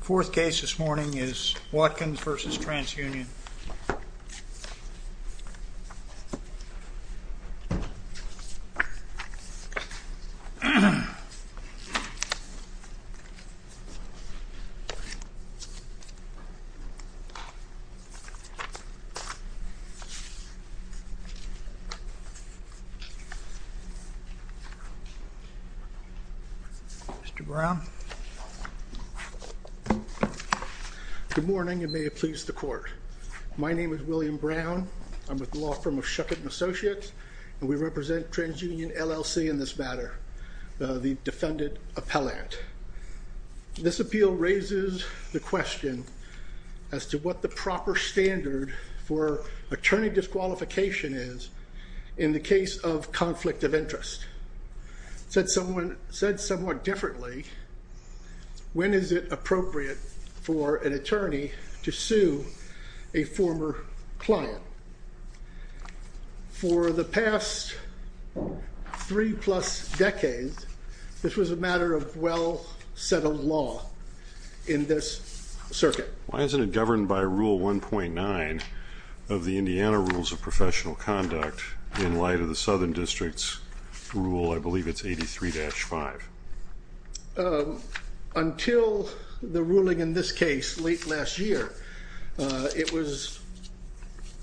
Fourth case this morning is Watkins v. Trans Union. Mr. Brown. Good morning, and may it please the court. My name is William Brown, I'm with the law firm of Shuckett & Associates, and we represent TransUnion LLC in this matter, the defendant appellant. This appeal raises the question as to what the proper standard for attorney disqualification is in the case of conflict of interest. It's said somewhat differently, when is it appropriate for an attorney to sue a former client? For the past three plus decades, this was a matter of well-settled law in this circuit. Why isn't it governed by Rule 1.9 of the Indiana Rules of Professional Conduct in light of the Southern District's Rule, I believe it's 83-5? Until the ruling in this case late last year, it was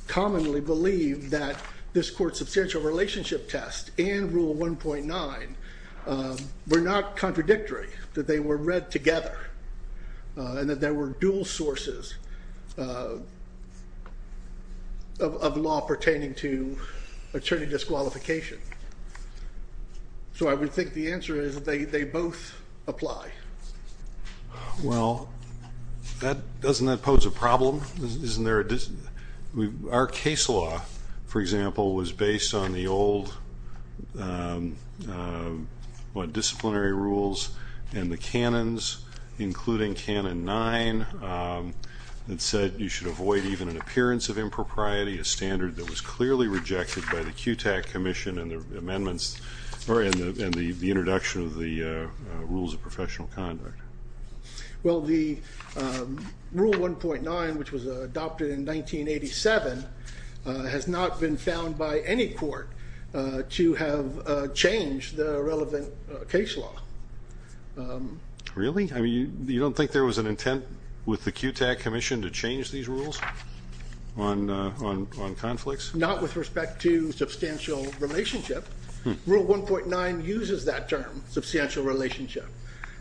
commonly believed that this court's substantial relationship test and Rule 1.9 were not contradictory, that they were read So I would think the answer is that they both apply. Well, doesn't that pose a problem? Our case law, for example, was based on the old disciplinary rules and the canons, including Canon 9, that said you should avoid even an appearance of impropriety, a standard that was adopted by the QTAC Commission in the introduction of the Rules of Professional Conduct. Well, the Rule 1.9, which was adopted in 1987, has not been found by any court to have changed the relevant case law. Really? You don't think there was an intent with the QTAC Commission to change these rules on conflicts? Not with respect to substantial relationship. Rule 1.9 uses that term, substantial relationship,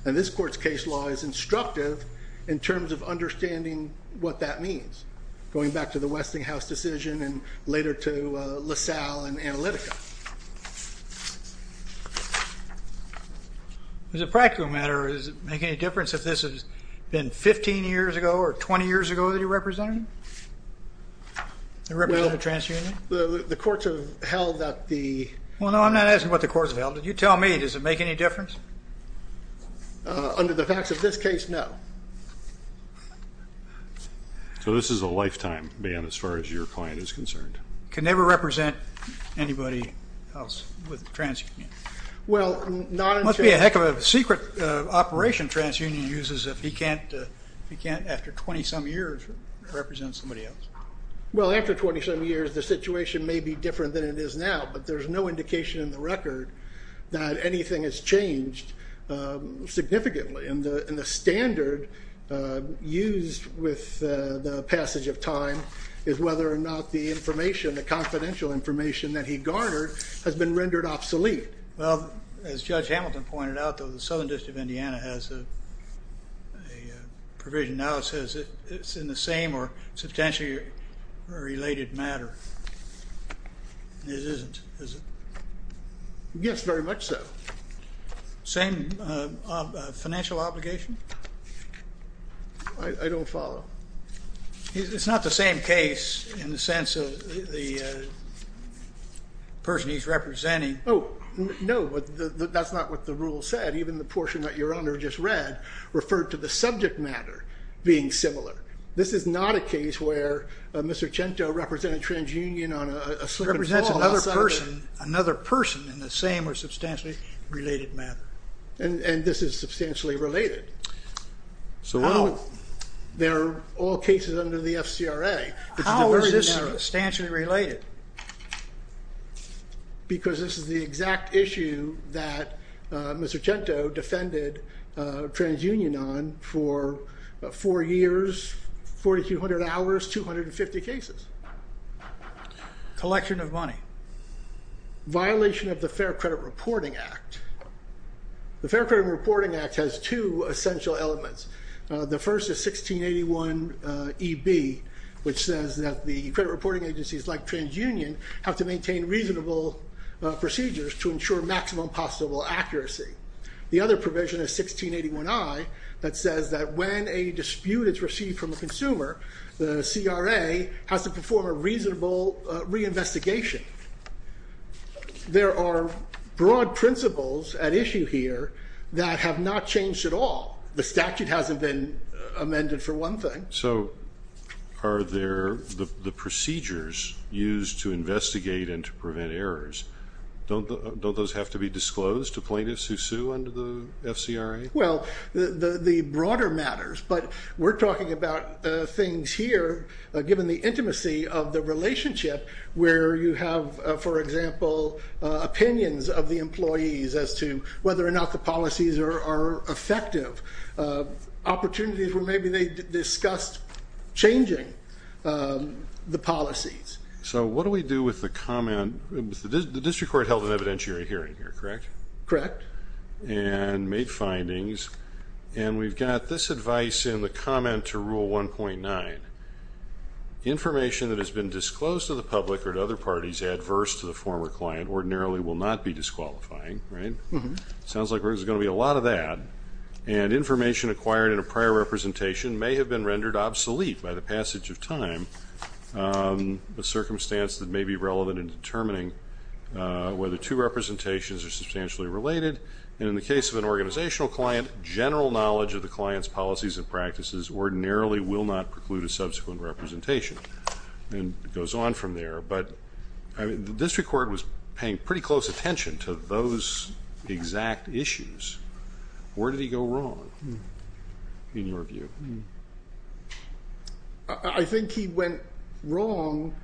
and this court's case law is instructive in terms of understanding what that means, going back to the Westinghouse decision and later to LaSalle and Analytica. As a practical matter, does it make any difference if this has been 15 years ago or 20 years ago that you represented him, the representative of the TransUnion? The courts have held that the... Well, no, I'm not asking what the courts have held. You tell me. Does it make any difference? Under the facts of this case, no. So this is a lifetime ban as far as your client is concerned. Can never represent anybody else with the TransUnion. Well, not until... Well, after 27 years, the situation may be different than it is now, but there's no indication in the record that anything has changed significantly, and the standard used with the passage of time is whether or not the information, the confidential information that he garnered has been rendered obsolete. Well, as Judge Hamilton pointed out, though, the Southern District of Indiana has a provision and now it says it's in the same or substantially related matter, and it isn't, is it? Yes, very much so. Same financial obligation? I don't follow. It's not the same case in the sense of the person he's representing. Oh, no, but that's not what the rule said. Even the portion that your Honor just read referred to the subject matter being similar. This is not a case where Mr. Chento represented TransUnion on a slip and fall. It represents another person in the same or substantially related matter. And this is substantially related. So how? They're all cases under the FCRA. How is this substantially related? Because this is the exact issue that Mr. Chento defended TransUnion on for four years, 4,200 hours, 250 cases. Collection of money. Violation of the Fair Credit Reporting Act. The Fair Credit Reporting Act has two essential elements. The first is 1681EB, which says that the credit reporting agencies like TransUnion have to maintain reasonable procedures to ensure maximum possible accuracy. The other provision is 1681I that says that when a dispute is received from a consumer, the CRA has to perform a reasonable reinvestigation. There are broad principles at issue here that have not changed at all. The statute hasn't been amended for one thing. So are there the procedures used to investigate and to prevent errors? Don't those have to be disclosed to plaintiffs who sue under the FCRA? Well, the broader matters, but we're talking about things here, given the intimacy of the relationship where you have, for example, opinions of the employees as to whether or not the policies are effective. Opportunities where maybe they discussed changing the policies. So what do we do with the comment, the district court held an evidentiary hearing here, correct? Correct. And made findings. And we've got this advice in the comment to rule 1.9. Information that has been disclosed to the public or to other parties adverse to the former client ordinarily will not be disqualifying, right? Sounds like there's going to be a lot of that. And information acquired in a prior representation may have been rendered obsolete by the passage of time. A circumstance that may be relevant in determining whether two representations are substantially related. And in the case of an organizational client, general knowledge of the client's policies and practices ordinarily will not preclude a subsequent representation. And it goes on from there. The district court was paying pretty close attention to those exact issues. Where did he go wrong, in your view? I think he went wrong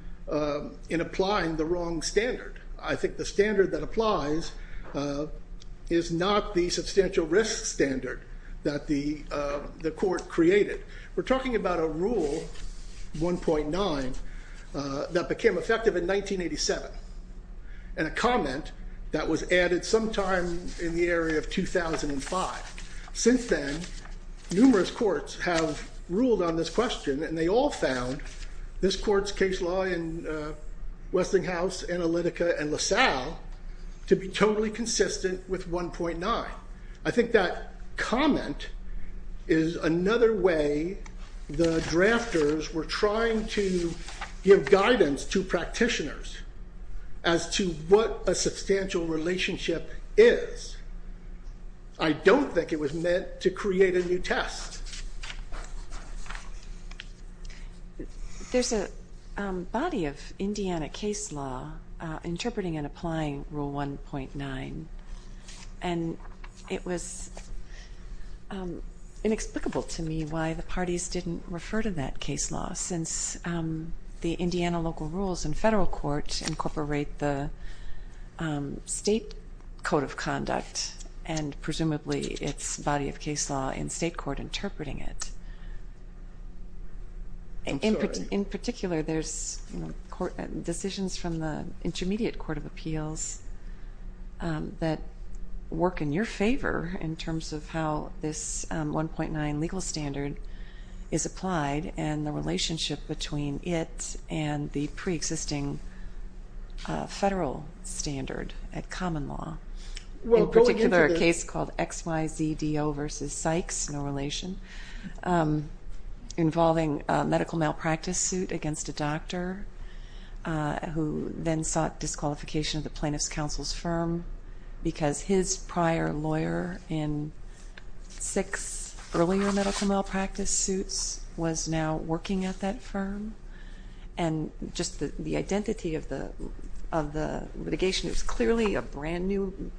in applying the wrong standard. I think the standard that applies is not the substantial risk standard that the court created. We're talking about a rule, 1.9, that became effective in 1987. And a comment that was added sometime in the area of 2005. Since then, numerous courts have ruled on this question, and they all found this court's case law in Westinghouse, Analytica, and LaSalle to be totally consistent with 1.9. I think that comment is another way the drafters were trying to give guidance to practitioners as to what a substantial relationship is. I don't think it was meant to create a new test. There's a body of Indiana case law interpreting and applying rule 1.9. And it was inexplicable to me why the parties didn't refer to that case law, since the Indiana local rules and federal court incorporate the state code of conduct. And presumably, it's body of case law in state court interpreting it. In particular, there's decisions from the Intermediate Court of Appeals. That work in your favor, in terms of how this 1.9 legal standard is applied, and the relationship between it and the pre-existing federal standard at common law. In particular, a case called XYZDO versus Sykes, no relation. Involving a medical malpractice suit against a doctor, who then sought disqualification of the plaintiff's counsel's firm. Because his prior lawyer in six earlier medical malpractice suits was now working at that firm. And just the identity of the litigation, it was clearly a brand new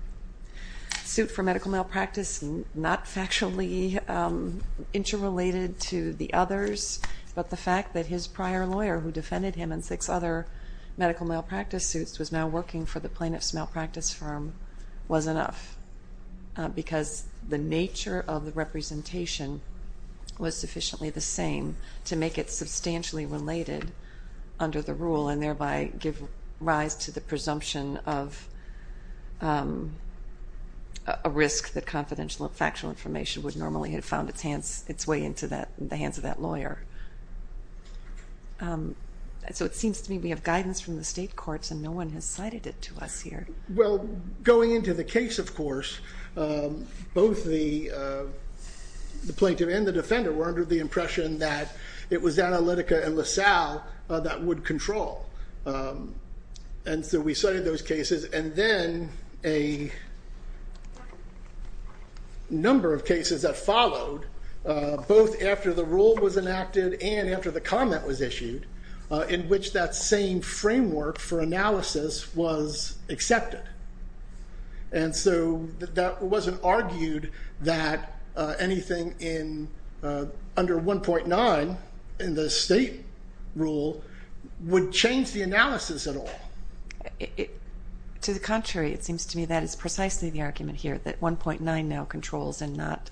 suit for medical malpractice, not factually interrelated to the others. But the fact that his prior lawyer, who defended him in six other medical malpractice suits, was now working for the plaintiff's malpractice firm, was enough. Because the nature of the representation was sufficiently the same to make it substantially related under the rule, and thereby give rise to the presumption of a risk that confidential and So it seems to me we have guidance from the state courts, and no one has cited it to us here. Well, going into the case, of course, both the plaintiff and the defender were under the impression that it was Analytica and LaSalle that would control. And so we cited those cases, and then a number of cases that followed, both after the rule was enacted and after the comment was issued, in which that same framework for analysis was accepted. And so that wasn't argued that anything under 1.9 in the state rule would change the analysis at all. To the contrary, it seems to me that is precisely the argument here, that 1.9 now controls, and not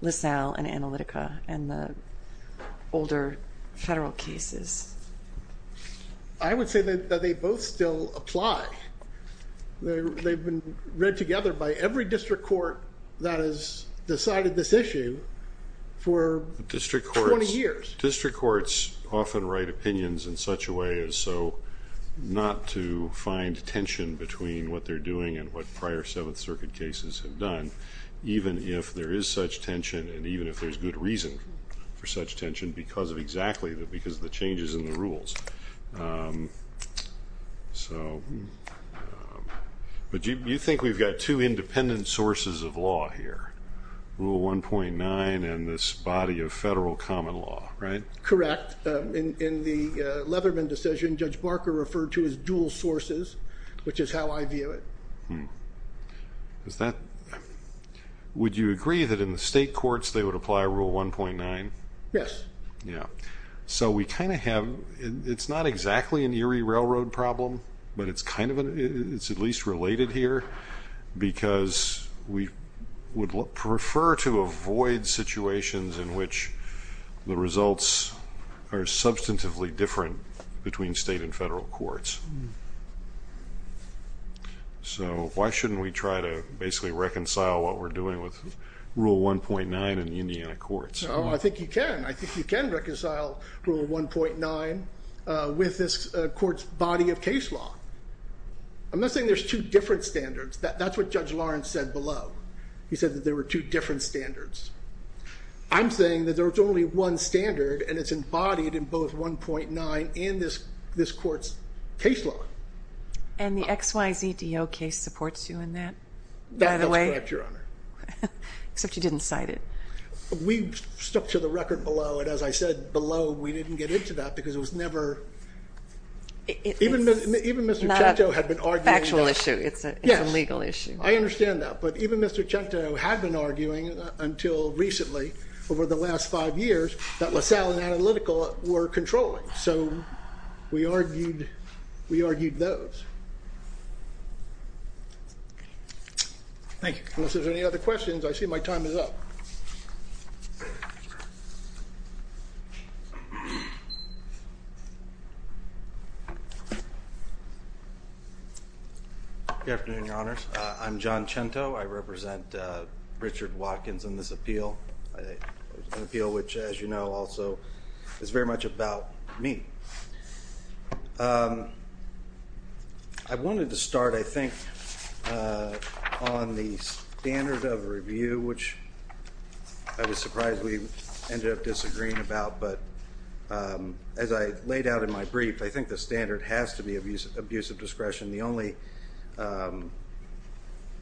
LaSalle and Analytica and the older federal cases. I would say that they both still apply. They've been read together by every district court that has decided this issue for 20 years. District courts often write opinions in such a way as so not to find tension between what they're doing and what prior Seventh Circuit cases have done. Even if there is such tension, and even if there's good reason for such tension, because of exactly, because of the changes in the rules. So, but you think we've got two independent sources of law here. Rule 1.9 and this body of federal common law, right? Correct, in the Leatherman decision, Judge Barker referred to as dual sources, which is how I view it. Is that, would you agree that in the state courts they would apply rule 1.9? Yes. Yeah. So we kind of have, it's not exactly an Erie Railroad problem, but it's kind of, it's at least related here. Because we would prefer to avoid situations in which the results are substantively different between state and federal courts. So why shouldn't we try to basically reconcile what we're doing with rule 1.9 in the Indiana courts? I think you can. I think you can reconcile rule 1.9 with this court's body of case law. I'm not saying there's two different standards. That's what Judge Lawrence said below. He said that there were two different standards. I'm saying that there's only one standard, and it's embodied in both 1.9 and this court's case law. And the X, Y, Z, D, O case supports you in that, by the way? That's correct, Your Honor. Except you didn't cite it. We stuck to the record below, and as I said below, we didn't get into that because it was never. It's not a factual issue, it's a legal issue. Yes, I understand that. But even Mr. Chento had been arguing, until recently, over the last five years, that LaSalle and Analytical were controlling. So we argued those. Thank you. Unless there's any other questions, I see my time is up. Good afternoon, Your Honors. I'm John Chento. I represent Richard Watkins in this appeal. An appeal which, as you know, also is very much about me. I wanted to start, I think, on the standard of review, which I was surprised we ended up disagreeing about. But as I laid out in my brief, I think the standard has to be abuse of discretion.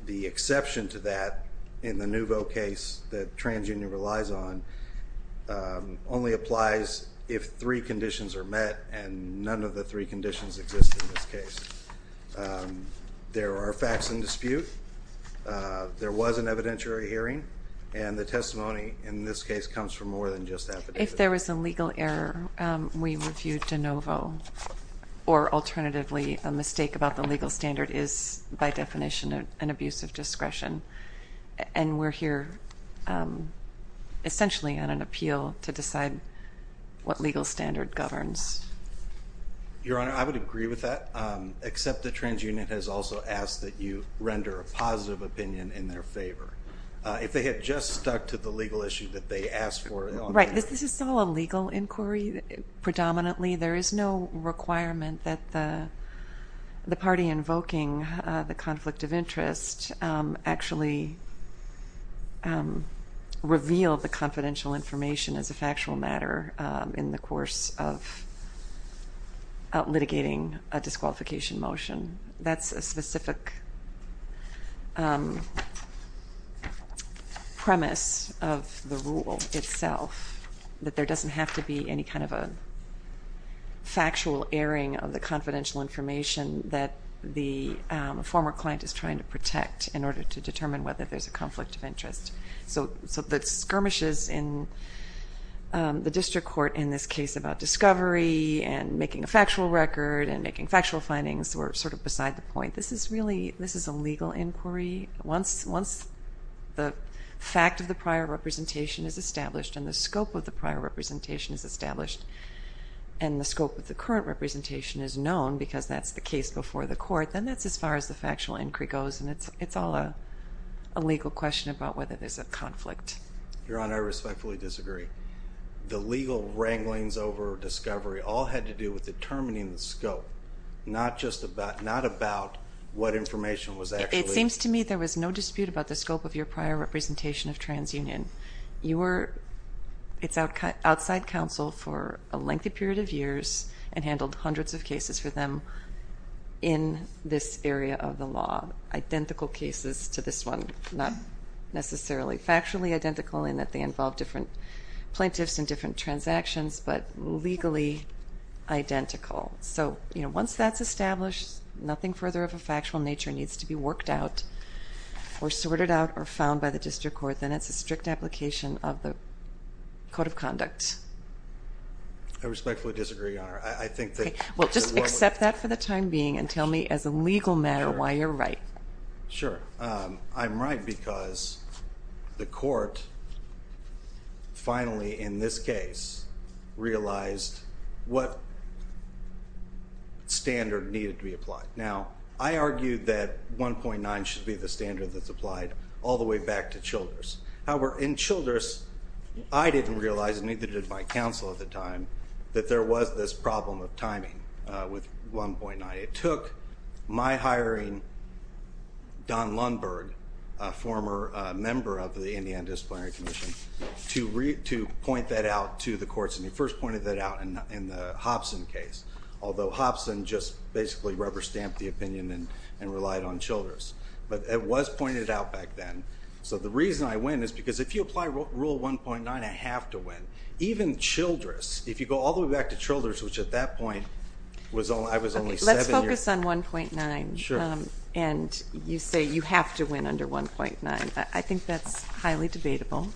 The exception to that, in the Nouveau case that TransUnion relies on, only applies if three conditions are met, and none of the three conditions exist in this case. There are facts in dispute. There was an evidentiary hearing, and the testimony, in this case, comes from more than just affidavit. If there was a legal error, we reviewed De Novo. Or, alternatively, a mistake about the legal standard is, by definition, an abuse of discretion. And we're here, essentially, on an appeal to decide what legal standard governs. Your Honor, I would agree with that, except that TransUnion has also asked that you render a positive opinion in their favor. If they had just stuck to the legal issue that they asked for. Right. This is all a legal inquiry, predominantly. There is no requirement that the party invoking the conflict of interest actually reveal the confidential information as a factual matter in the course of litigating a disqualification motion. That's a specific premise of the rule itself. That there doesn't have to be any kind of a factual airing of the confidential information that the former client is trying to protect in order to determine whether there's a conflict of interest. So, the skirmishes in the district court in this case about discovery and making a factual record and making factual findings were sort of beside the point. This is a legal inquiry. Once the fact of the prior representation is established and the scope of the prior representation is established and the scope of the current representation is known, because that's the case before the court, then that's as far as the factual inquiry goes. And it's all a legal question about whether there's a conflict. Your Honor, I respectfully disagree. The legal wranglings over discovery all had to do with determining the scope, not just about, not about what information was actually... It seems to me there was no dispute about the scope of your prior representation of TransUnion. You were, it's outside counsel for a lengthy period of years and handled hundreds of cases for them in this area of the law, identical cases to this one, not necessarily factually identical in that they involve different plaintiffs and different transactions, but legally identical. So, you know, once that's established, nothing further of a factual nature needs to be worked out or sorted out or found by the district court, then it's a strict application of the code of conduct. I respectfully disagree, Your Honor. I think that... Well, just accept that for the time being and tell me as a legal matter why you're right. Sure. I'm right because the court finally, in this case, realized what standard needed to be applied. Now, I argued that 1.9 should be the standard that's applied all the way back to Childress. However, in Childress, I didn't realize, and neither did my counsel at the time, that there was this problem of timing with 1.9. It took my hiring Don Lundberg, a former member of the Indiana Disciplinary Commission, to point that out to the courts, and he first pointed that out in the Hobson case, although Hobson just basically rubber-stamped the opinion and relied on Childress. But it was pointed out back then. So the reason I win is because if you apply Rule 1.9, I have to win. Even Childress, if you go all the way back to Childress, which at that point, I was only seven... If you focus on 1.9, and you say you have to win under 1.9, I think that's highly debatable,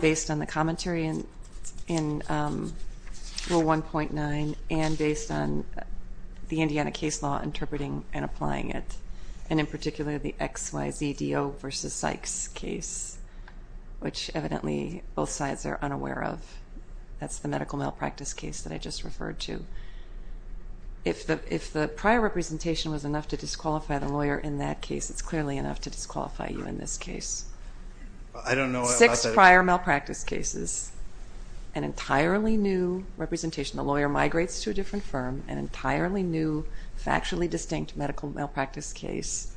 based on the commentary in Rule 1.9 and based on the Indiana case law interpreting and applying it, and in particular, the XYZDO v. Sykes case, which evidently both sides are unaware of. That's the medical malpractice case that I just referred to. If the prior representation was enough to disqualify the lawyer in that case, it's clearly enough to disqualify you in this case. Six prior malpractice cases, an entirely new representation. The lawyer migrates to a different firm, an entirely new factually distinct medical malpractice case,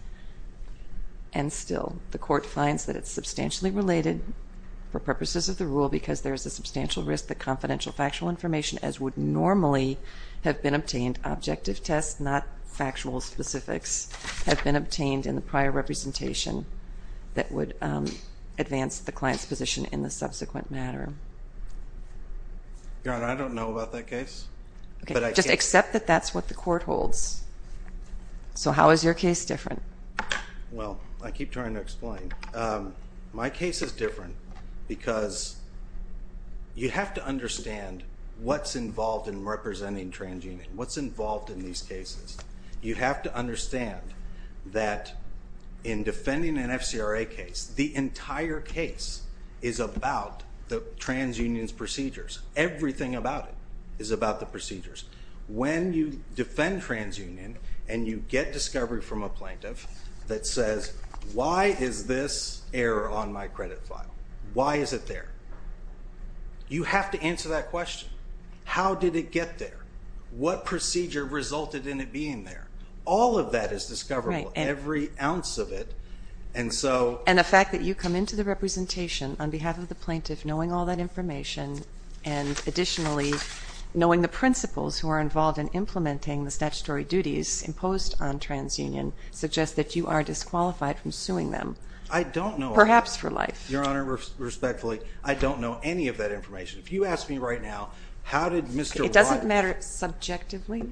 and still the court finds that it's substantially related for purposes of the rule because there's a substantial risk that confidential factual information, as would normally have been obtained, objective tests, not factual specifics, have been obtained in the prior representation that would advance the client's position in the subsequent matter. Your Honor, I don't know about that case. Just accept that that's what the court holds. So how is your case different? Well, I keep trying to explain. My case is different because you have to understand what's involved in representing transunion, what's involved in these cases. You have to understand that in defending an FCRA case, the entire case is about the transunion's procedures. Everything about it is about the procedures. When you defend transunion and you get discovery from a plaintiff that says, why is this error on my credit file? Why is it there? You have to answer that question. How did it get there? What procedure resulted in it being there? All of that is discoverable. Every ounce of it. And so... And the fact that you come into the representation on behalf of the plaintiff knowing all that information and additionally knowing the principles who are involved in implementing the statutory duties imposed on transunion suggest that you are disqualified from suing them. I don't know. Perhaps for life. Your Honor, respectfully, I don't know any of that information. If you ask me right now, how did Mr. White... It doesn't matter subjectively.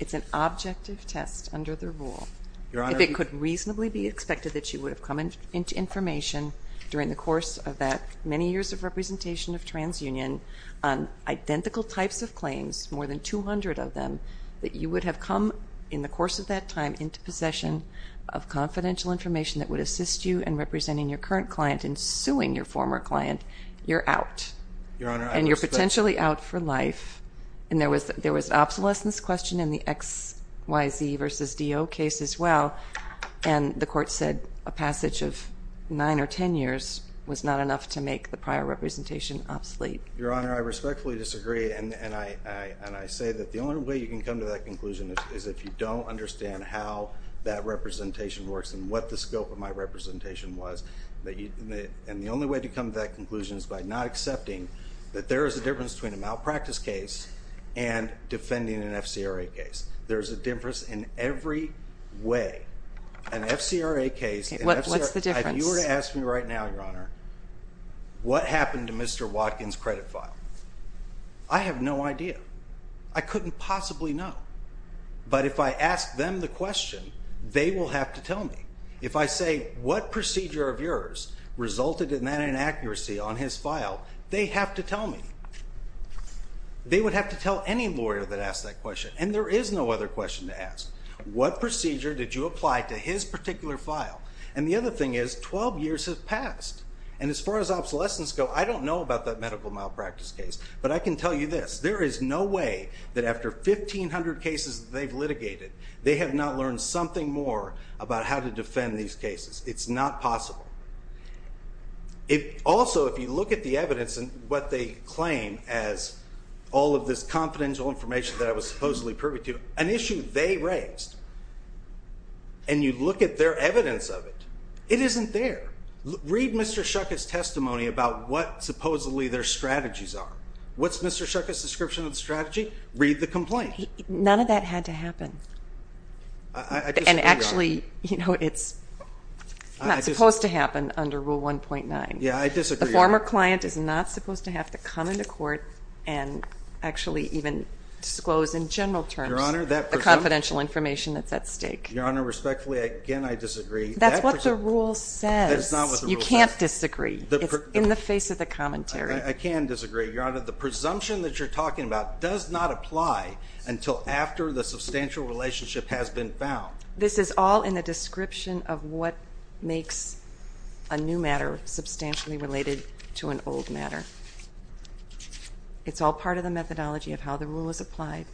It's an objective test under the rule. Your Honor... If it could reasonably be expected that you would have come into information during the course of that many years of representation of transunion on identical types of claims, more than 200 of them, that you would have come, in the course of that time, into possession of confidential information that would assist you in representing your current client and suing your former client, you're out. Your Honor, I respectfully... And you're potentially out for life. And there was an obsolescence question in the XYZ versus DO case as well. And the court said a passage of nine or ten years was not enough to make the prior representation obsolete. Your Honor, I respectfully disagree. And I say that the only way you can come to that conclusion is if you don't understand how that representation works and what the scope of my representation was. And the only way to come to that conclusion is by not accepting that there is a difference between a malpractice case and defending an FCRA case. There's a difference in every way. An FCRA case... Okay, what's the difference? If you were to ask me right now, Your Honor, what happened to Mr. Watkins' credit file? I have no idea. I couldn't possibly know. But if I ask them the question, they will have to tell me. If I say, what procedure of yours resulted in that inaccuracy on his file? They have to tell me. They would have to tell any lawyer that asked that question. And there is no other question to ask. What procedure did you apply to his particular file? And the other thing is, 12 years have passed. And as far as obsolescence go, I don't know about that medical malpractice case. But I can tell you this. There is no way that after 1,500 cases that they've litigated, they have not learned something more about how to defend these cases. It's not possible. Also, if you look at the evidence and what they claim as all of this confidential information that I was supposedly privy to, an issue they raised, and you look at their evidence of it, it isn't there. Read Mr. Schuchat's testimony about what supposedly their strategies are. What's Mr. Schuchat's description of the strategy? Read the complaint. None of that had to happen. And actually, it's not supposed to happen under Rule 1.9. Yeah, I disagree. The former client is not supposed to have to come into court and actually even disclose in general terms the confidential information that's at stake. Your Honor, respectfully, again, I disagree. That's what the rule says. You can't disagree. It's in the face of the commentary. I can disagree, Your Honor. The presumption that you're talking about does not apply until after the substantial relationship has been found. This is all in the description of what makes a new matter substantially related to an old matter. It's all part of the methodology of how the rule is applied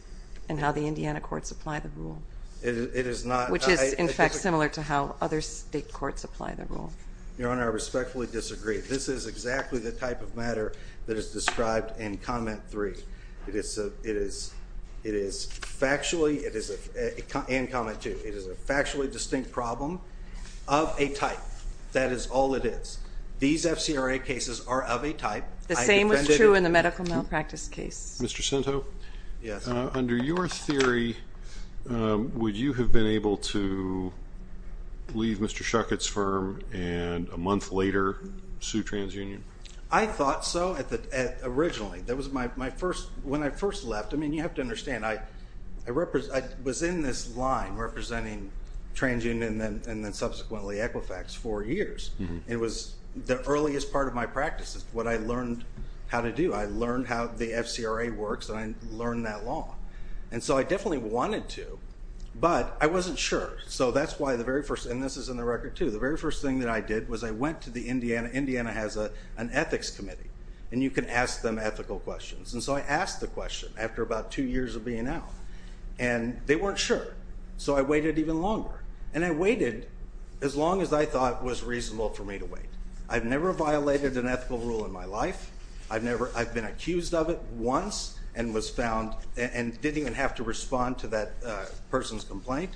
and how the Indiana courts apply the rule. Which is, in fact, similar to how other state courts apply the rule. Your Honor, I respectfully disagree. This is exactly the type of matter that is described in Comment 3. Comment 2. It is a factually distinct problem of a type. That is all it is. These FCRA cases are of a type. The same was true in the medical malpractice case. Mr. Cento? Yes. Under your theory, would you have been able to leave Mr. Shuckett's firm and a month later sue TransUnion? I thought so originally. When I first left, I mean, you have to understand, I was in this line representing TransUnion and then subsequently Equifax for years. It was the earliest part of my practice is what I learned how to do. I learned how the FCRA works. And I learned that law. And so I definitely wanted to, but I wasn't sure. So that's why the very first, and this is in the record too, the very first thing that I did was I went to the Indiana. Indiana has an ethics committee. And you can ask them ethical questions. And so I asked the question after about two years of being out. And they weren't sure. So I waited even longer. And I waited as long as I thought was reasonable for me to wait. I've never violated an ethical rule in my life. I've never, I've been accused of it once and was found and didn't even have to respond to that person's complaint.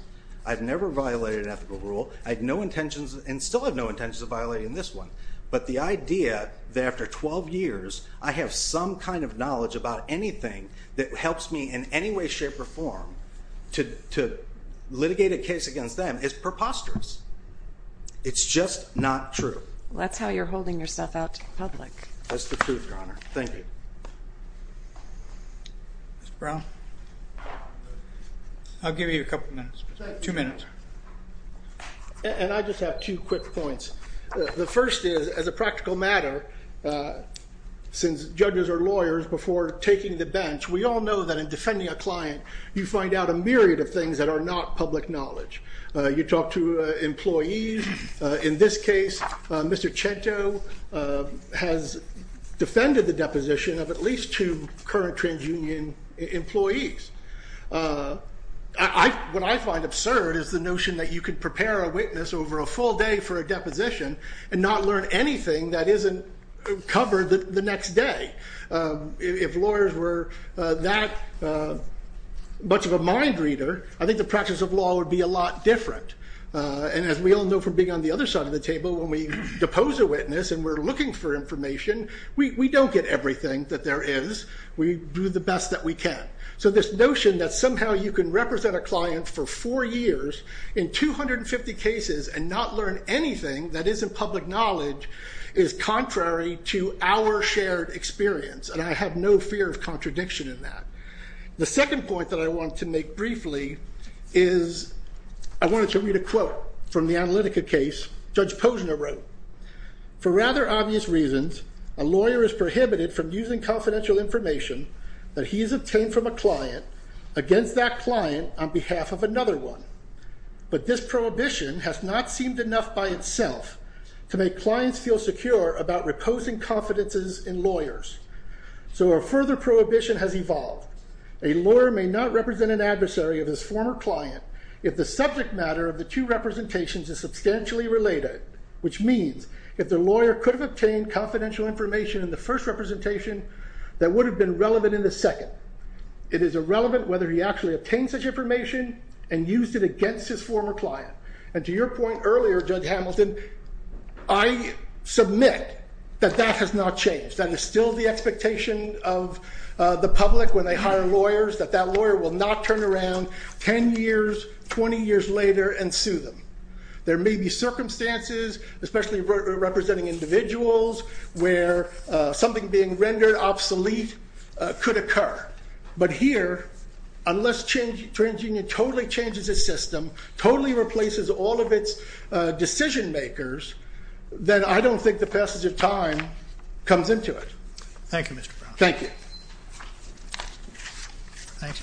I've never violated an ethical rule. I had no intentions and still have no intentions of violating this one. But the idea that after 12 years, I have some kind of knowledge about anything that helps me in any way, shape or form to litigate a case against them is preposterous. It's just not true. That's how you're holding yourself out to the public. That's the truth, Your Honor. Thank you. Mr. Brown? I'll give you a couple of minutes, two minutes. And I just have two quick points. The first is, as a practical matter, since judges are lawyers before taking the bench, we all know that in defending a client, you find out a myriad of things that are not public knowledge. You talk to employees. In this case, Mr. Chento has defended the deposition of at least two current TransUnion employees. What I find absurd is the notion that you could prepare a witness over a full day for a deposition and not learn anything that isn't covered the next day. If lawyers were that much of a mind reader, I think the practice of law would be a lot different. And as we all know from being on the other side of the table, when we depose a witness and we're looking for information, we don't get everything that there is. We do the best that we can. So this notion that somehow you can represent a client for four years in 250 cases and not learn anything that isn't public knowledge is contrary to our shared experience. And I have no fear of contradiction in that. The second point that I want to make briefly is I wanted to read a quote from the Analytica case Judge Posner wrote. For rather obvious reasons, a lawyer is prohibited from using confidential information that he has obtained from a client against that client on behalf of another one. But this prohibition has not seemed enough by itself to make clients feel secure about reposing confidences in lawyers. So a further prohibition has evolved. A lawyer may not represent an adversary of his former client if the subject matter of the two representations is substantially related, which means if the lawyer could have obtained confidential information in the first representation, that would have been relevant in the second. It is irrelevant whether he actually obtained such information and used it against his former client. And to your point earlier, Judge Hamilton, I submit that that has not changed. That is still the expectation of the public when they hire lawyers, that that lawyer will not turn around 10 years, 20 years later and sue them. There may be circumstances, especially representing individuals, where something being rendered obsolete could occur. But here, unless TransUnion totally changes its system, totally replaces all of its decision makers, then I don't think the passage of time comes into it. Thank you, Mr. Brown. Thank you. Thanks.